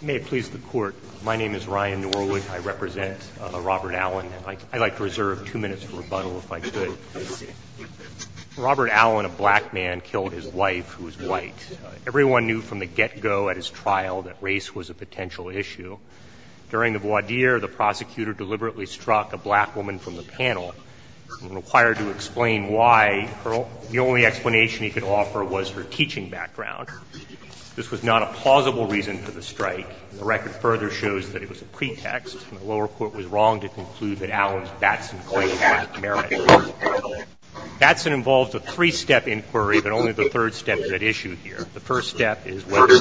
May it please the Court, my name is Ryan Norwood. I represent Robert Allen. I'd like to reserve two minutes for rebuttal, if I could. Robert Allen, a black man, killed his wife, who was white. Everyone knew from the get-go at his trial that race was a potential issue. During the voir dire, the prosecutor deliberately struck a black woman from the panel and required to explain why. The only explanation he could offer was her teaching background. This was not a plausible reason for the strike. The record further shows that it was a pretext, and the lower court was wrong to conclude that Allen's Batson claim had merit. Batson involved a three-step inquiry, but only the third step is at issue here. The first step is whether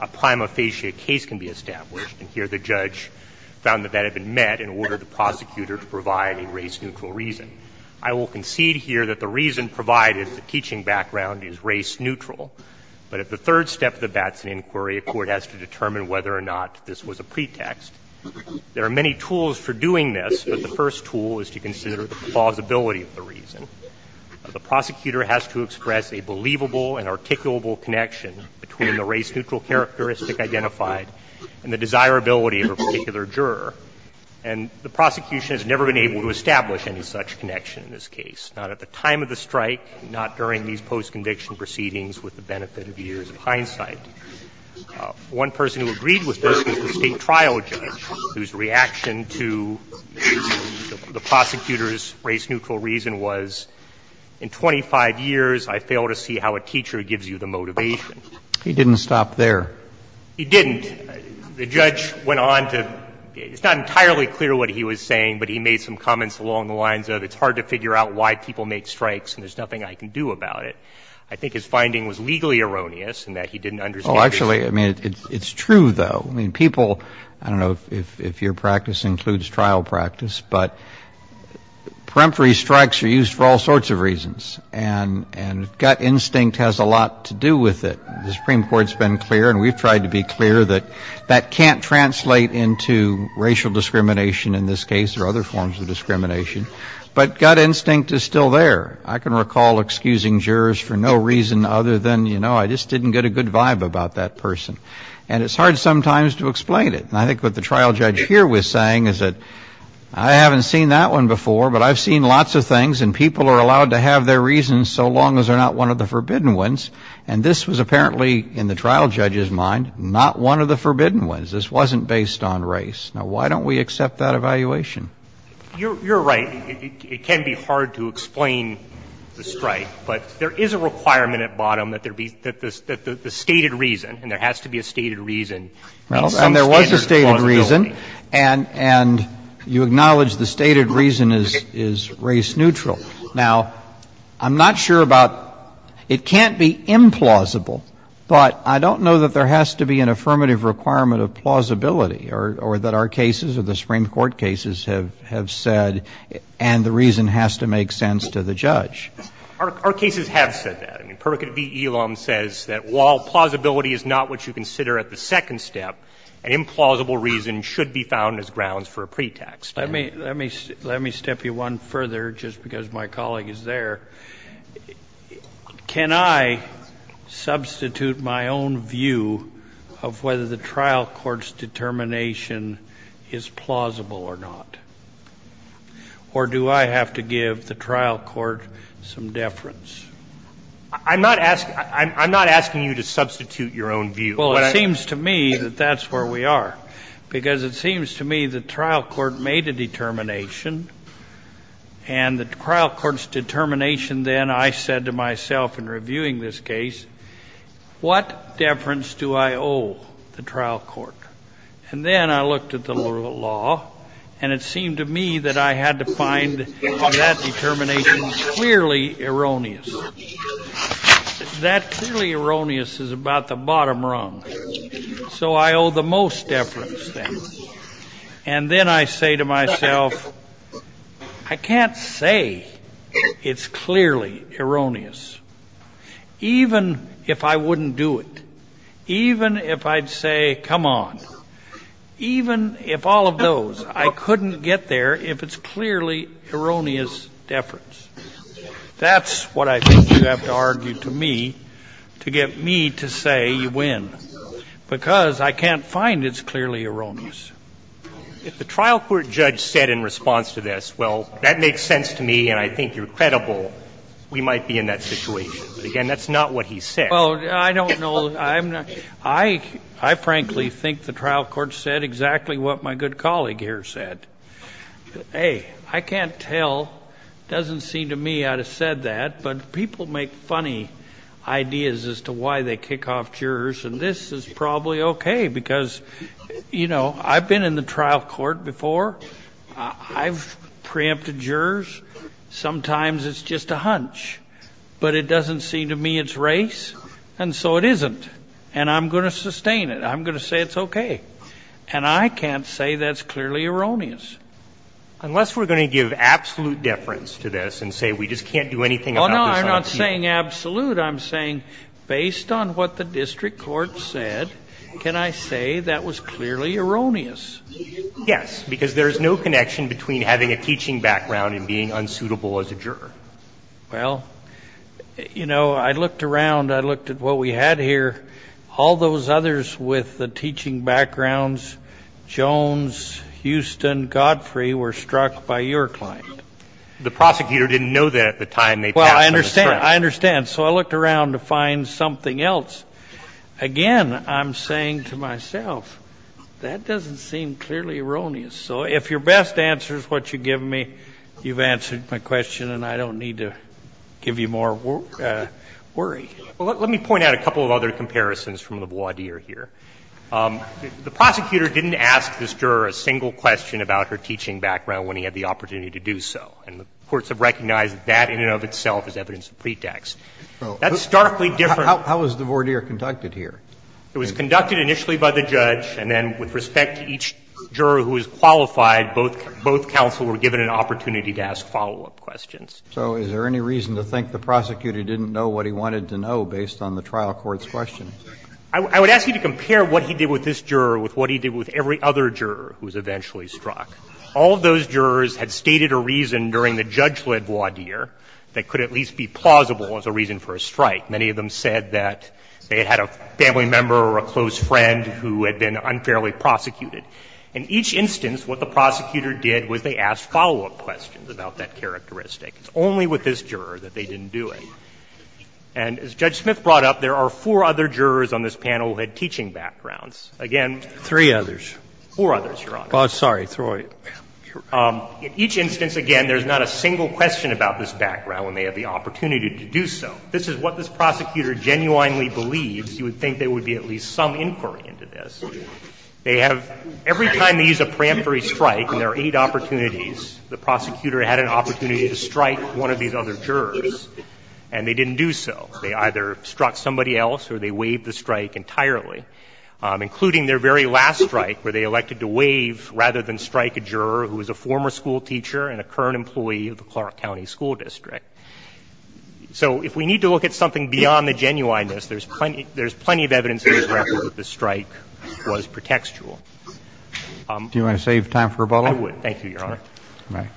a prima facie case can be established. And here the judge found that that had been met and ordered the prosecutor to provide a race-neutral reason. I will concede here that the reason provided, the teaching background, is race-neutral. But at the third step of the Batson inquiry, a court has to determine whether or not this was a pretext. There are many tools for doing this, but the first tool is to consider the plausibility of the reason. The prosecutor has to express a believable and articulable connection between the race-neutral characteristic identified and the desirability of a particular juror. And the prosecution has never been able to establish any such connection in this case, not at the time of the strike, not during these post-conviction proceedings with the benefit of years of hindsight. One person who agreed with this was the State trial judge, whose reaction to the prosecutor's race-neutral reason was, in 25 years, I fail to see how a teacher gives you the motivation. He didn't stop there. He didn't. The judge went on to – it's not entirely clear what he was saying, but he made some comments along the lines of, it's hard to figure out why people make strikes and there's nothing I can do about it. I think his finding was legally erroneous in that he didn't understand the reason. Kennedy, I mean, it's true, though. I mean, people – I don't know if your practice includes trial practice, but peremptory strikes are used for all sorts of reasons. And gut instinct has a lot to do with it. The Supreme Court's been clear and we've tried to be clear that that can't translate into racial discrimination in this case or other forms of discrimination. But gut instinct is still there. I can recall excusing jurors for no reason other than, you know, I just didn't get a good vibe about that person. And it's hard sometimes to explain it. And I think what the trial judge here was saying is that I haven't seen that one before, but I've seen lots of things and people are allowed to have their reasons so long as they're not one of the forbidden ones. And this was apparently, in the trial judge's mind, not one of the forbidden ones. This wasn't based on race. Now, why don't we accept that evaluation? You're right. It can be hard to explain the strike. But there is a requirement at bottom that there be – that the stated reason, and there has to be a stated reason, means some standard of plausibility. Well, and there was a stated reason. And you acknowledge the stated reason is race neutral. Now, I'm not sure about – it can't be implausible, but I don't know that there has to be an affirmative requirement of plausibility or that our cases or the Supreme Court cases have said, and the reason has to make sense to the judge. Our cases have said that. I mean, Prerogative v. Elam says that while plausibility is not what you consider at the second step, an implausible reason should be found as grounds for a pretext. Let me step you one further, just because my colleague is there. Can I substitute my own view of whether the trial court's determination is plausible or not? Or do I have to give the trial court some deference? I'm not asking you to substitute your own view. Well, it seems to me that that's where we are, because it seems to me the trial court made a determination, and the trial court's determination then, I said to myself in reviewing this case, what deference do I owe the trial court? And then I looked at the law, and it seemed to me that I had to find that determination clearly erroneous. That clearly erroneous is about the bottom rung. So I owe the most deference then. And then I say to myself, I can't say it's clearly erroneous, even if I wouldn't do it, even if I'd say, come on, even if all of those, I couldn't get there if it's clearly erroneous deference. That's what I think you have to argue to me to get me to say you win, because I can't find it's clearly erroneous. If the trial court judge said in response to this, well, that makes sense to me, and I think you're credible, we might be in that situation. But again, that's not what he said. Well, I don't know. I frankly think the trial court said exactly what my good colleague here said. A, I can't tell. It doesn't seem to me I'd have said that. But people make funny ideas as to why they kick off jurors. And this is probably okay, because, you know, I've been in the trial court before. I've preempted jurors. Sometimes it's just a hunch. But it doesn't seem to me it's race, and so it isn't. And I'm going to sustain it. I'm going to say it's okay. And I can't say that's clearly erroneous. Unless we're going to give absolute deference to this and say we just can't do anything about this idea. Oh, no, I'm not saying absolute. I'm saying based on what the district court said, can I say that was clearly erroneous? Yes, because there is no connection between having a teaching background and being unsuitable as a juror. Well, you know, I looked around. I looked at what we had here. All those others with the teaching backgrounds, Jones, Houston, Godfrey, were struck by your client. The prosecutor didn't know that at the time they passed on the trial. Well, I understand. I understand. So I looked around to find something else. Again, I'm saying to myself, that doesn't seem clearly erroneous. So if your best answer is what you've given me, you've answered my question, and I don't need to give you more worry. Well, let me point out a couple of other comparisons from the voir dire here. The prosecutor didn't ask this juror a single question about her teaching background when he had the opportunity to do so. And the courts have recognized that in and of itself as evidence of pretext. That's starkly different. How was the voir dire conducted here? It was conducted initially by the judge, and then with respect to each juror who was qualified, both counsel were given an opportunity to ask follow-up questions. So is there any reason to think the prosecutor didn't know what he wanted to know based on the trial court's question? I would ask you to compare what he did with this juror with what he did with every other juror who was eventually struck. All of those jurors had stated a reason during the judge-led voir dire that could at least be plausible as a reason for a strike. Many of them said that they had had a family member or a close friend who had been unfairly prosecuted. In each instance, what the prosecutor did was they asked follow-up questions about that characteristic. It's only with this juror that they didn't do it. And as Judge Smith brought up, there are four other jurors on this panel who had teaching backgrounds. Again, four others, Your Honor. Oh, sorry, throw it. In each instance, again, there's not a single question about this background when they have the opportunity to do so. This is what this prosecutor genuinely believes. He would think there would be at least some inquiry into this. They have — every time they use a preemptory strike, and there are eight opportunities, the prosecutor had an opportunity to strike one of these other jurors, and they didn't do so. They either struck somebody else or they waived the strike entirely, including their very last strike where they elected to waive rather than strike a juror who was a former school teacher and a current employee of the Clark County School District. So if we need to look at something beyond the genuineness, there's plenty of evidence in this record that the strike was pretextual. Do you want to save time for rebuttal? I would. Thank you, Your Honor. All right.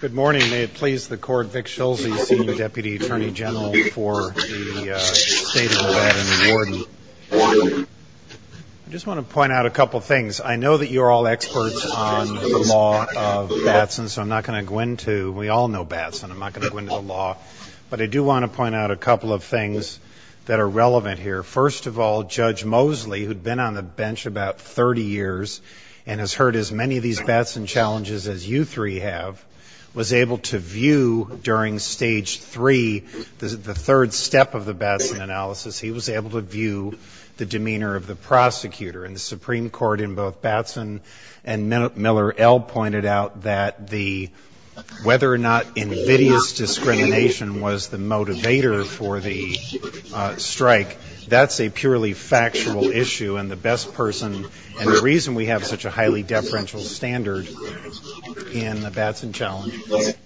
Good morning. May it please the Court, Vic Schulze, Senior Deputy Attorney General for the State of Nevada and Warden. I just want to point out a couple of things. I know that you're all experts on the law of Batson, so I'm not going to go into — we all know Batson. I'm not going to go into the law. But I do want to point out a couple of things that are relevant here. First of all, Judge Mosley, who'd been on the bench about 30 years and has heard as many of these Batson challenges as you three have, was able to view during Stage 3, the third step of the Batson analysis, he was able to view the demeanor of the prosecutor. And the Supreme Court in both Batson and Miller L. pointed out that the — whether or not that's a purely factual issue, and the best person — and the reason we have such a highly deferential standard in the Batson challenge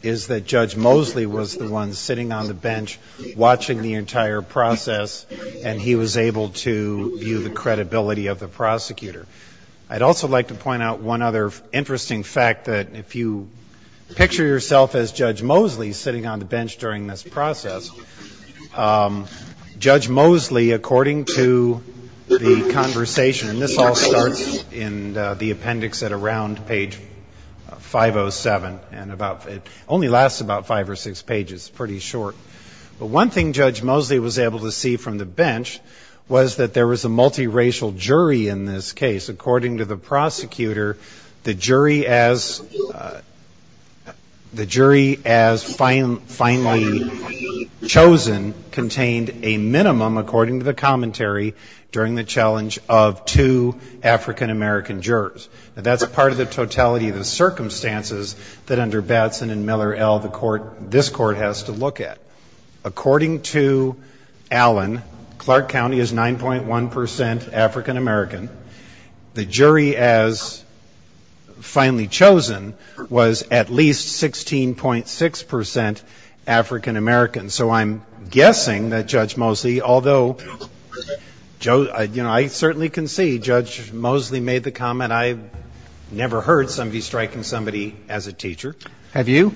is that Judge Mosley was the one sitting on the bench watching the entire process, and he was able to view the credibility of the prosecutor. I'd also like to point out one other interesting fact, that if you picture yourself as Judge Mosley in this process, Judge Mosley, according to the conversation — and this all starts in the appendix at around page 507, and about — it only lasts about five or six pages. It's pretty short. But one thing Judge Mosley was able to see from the bench was that there was a multiracial jury in this case. According to the prosecutor, the jury as — the jury as finally — as finally determined — chosen contained a minimum, according to the commentary, during the challenge of two African-American jurors. Now, that's part of the totality of the circumstances that under Batson and Miller L., the Court — this Court has to look at. According to Allen, Clark County is 9.1 percent African-American. The jury as finally chosen was at least 16.6 percent African-American. So I'm guessing that Judge Mosley, although — you know, I certainly can see Judge Mosley made the comment, I've never heard somebody striking somebody as a teacher. Have you?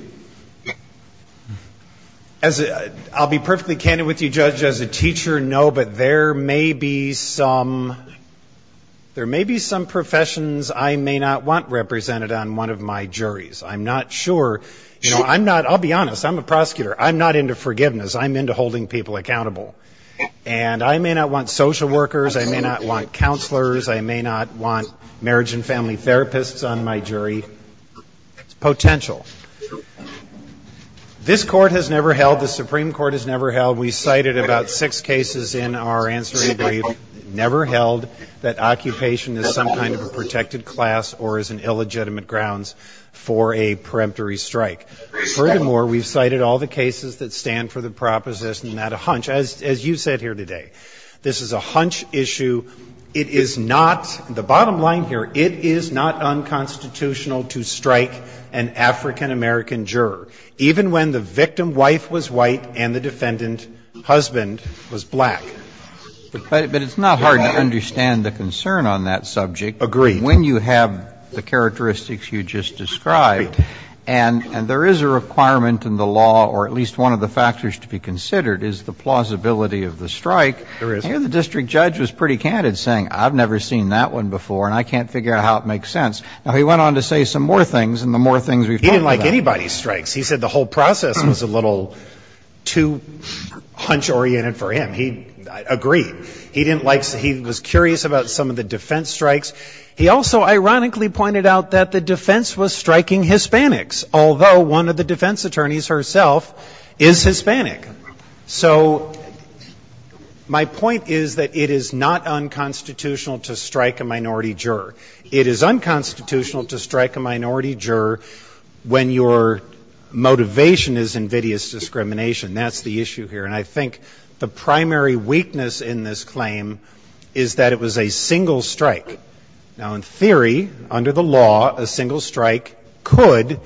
As — I'll be perfectly candid with you, Judge, as a teacher, no, but there may be some — there may be some professions I may not want represented on one of my juries. I'm not sure — you know, I'm not — I'll be honest, I'm a prosecutor. I'm not into forgiveness, I'm into holding people accountable. And I may not want social workers, I may not want counselors, I may not want marriage and family therapists on my jury. It's potential. This Court has never held — the Supreme Court has never held — we cited about six cases in our answering brief, never held that occupation is some kind of a protected class or is an illegitimate grounds for a peremptory strike. Furthermore, we've cited all the cases that stand for the proposition that a hunch — as you said here today, this is a hunch issue. It is not — the bottom line here, it is not unconstitutional to strike an African-American juror, even when the victim wife was white and the defendant husband was black. But it's not hard to understand the concern on that subject. Agreed. I mean, when you have the characteristics you just described, and there is a requirement in the law, or at least one of the factors to be considered, is the plausibility of the strike. There is. Here the district judge was pretty candid, saying, I've never seen that one before and I can't figure out how it makes sense. Now, he went on to say some more things, and the more things we've talked about — He didn't like anybody's strikes. He said the whole process was a little too hunch-oriented for him. He — agreed. He didn't like — he was curious about some of the defense strikes. He also ironically pointed out that the defense was striking Hispanics, although one of the defense attorneys herself is Hispanic. So my point is that it is not unconstitutional to strike a minority juror. It is unconstitutional to strike a minority juror when your motivation is invidious discrimination. That's the issue here. And I think the primary weakness in this claim is that it was a single strike. Now, in theory, under the law, a single strike could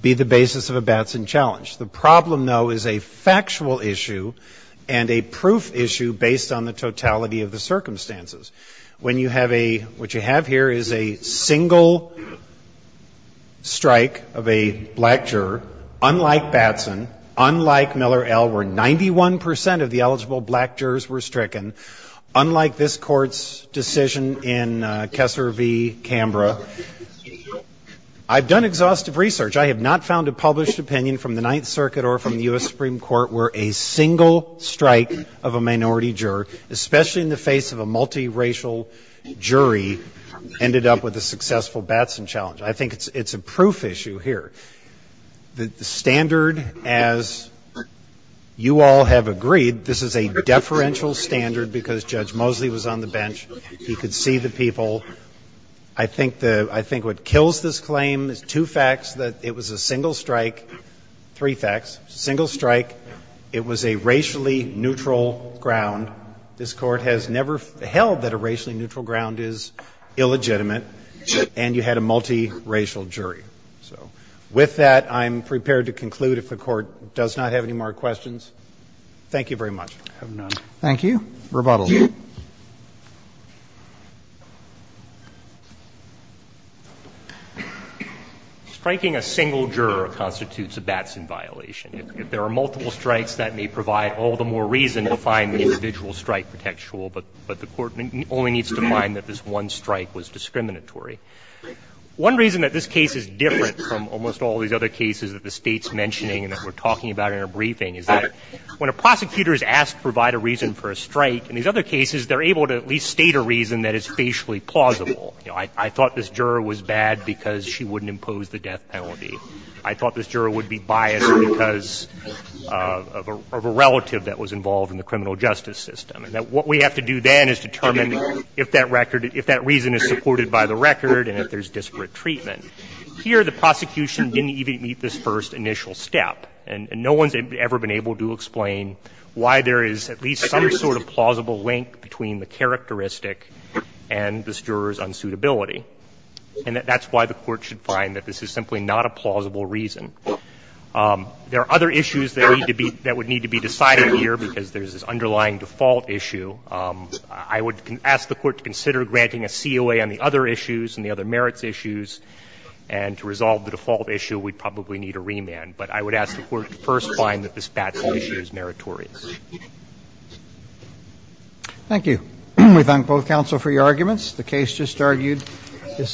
be the basis of a Batson challenge. The problem, though, is a factual issue and a proof issue based on the totality of the circumstances. When you have a — what you have here is a single strike of a black juror, unlike Batson, unlike Miller L., where 91 percent of the eligible black jurors were stricken, unlike this Court's decision in Kessler v. Canberra, I've done exhaustive research. I have not found a published opinion from the Ninth Circuit or from the U.S. Supreme Court where a single strike of a minority juror, especially in the face of a multiracial jury, ended up with a successful Batson challenge. I think it's a proof issue here. The standard, as you all have agreed, this is a deferential standard because Judge Mosley was on the bench. He could see the people. I think the — I think what kills this claim is two facts, that it was a single strike — three facts — single strike, it was a racially neutral ground. This Court has never held that a racially neutral ground is illegitimate, and you had a multiracial jury. So with that, I'm prepared to conclude if the Court does not have any more questions. Thank you very much. Roberts. I have none. Roberts. Thank you. Rebuttal. Striking a single juror constitutes a Batson violation. If there are multiple strikes, that may provide all the more reason to find the individual strike contextual, but the Court only needs to find that this one strike was discriminatory. One reason that this case is different from almost all these other cases that the State's mentioning and that we're talking about in our briefing is that when a prosecutor is asked to provide a reason for a strike, in these other cases, they're able to at least state a reason that is facially plausible. You know, I thought this juror was bad because she wouldn't impose the death penalty. I thought this juror would be biased because of a relative that was involved in the criminal justice system. And that what we have to do then is determine if that record — if that reason is supported by the record and if there's disparate treatment. Here, the prosecution didn't even meet this first initial step, and no one's ever been able to explain why there is at least some sort of plausible link between the characteristic and this juror's unsuitability. And that's why the Court should find that this is simply not a plausible reason. There are other issues that need to be — that would need to be decided here because there's this underlying default issue. I would ask the Court to consider granting a COA on the other issues and the other merits issues. And to resolve the default issue, we'd probably need a remand. But I would ask the Court to first find that this BATS issue is meritorious. Roberts. Thank you. We thank both counsel for your arguments. The case just argued is submitted.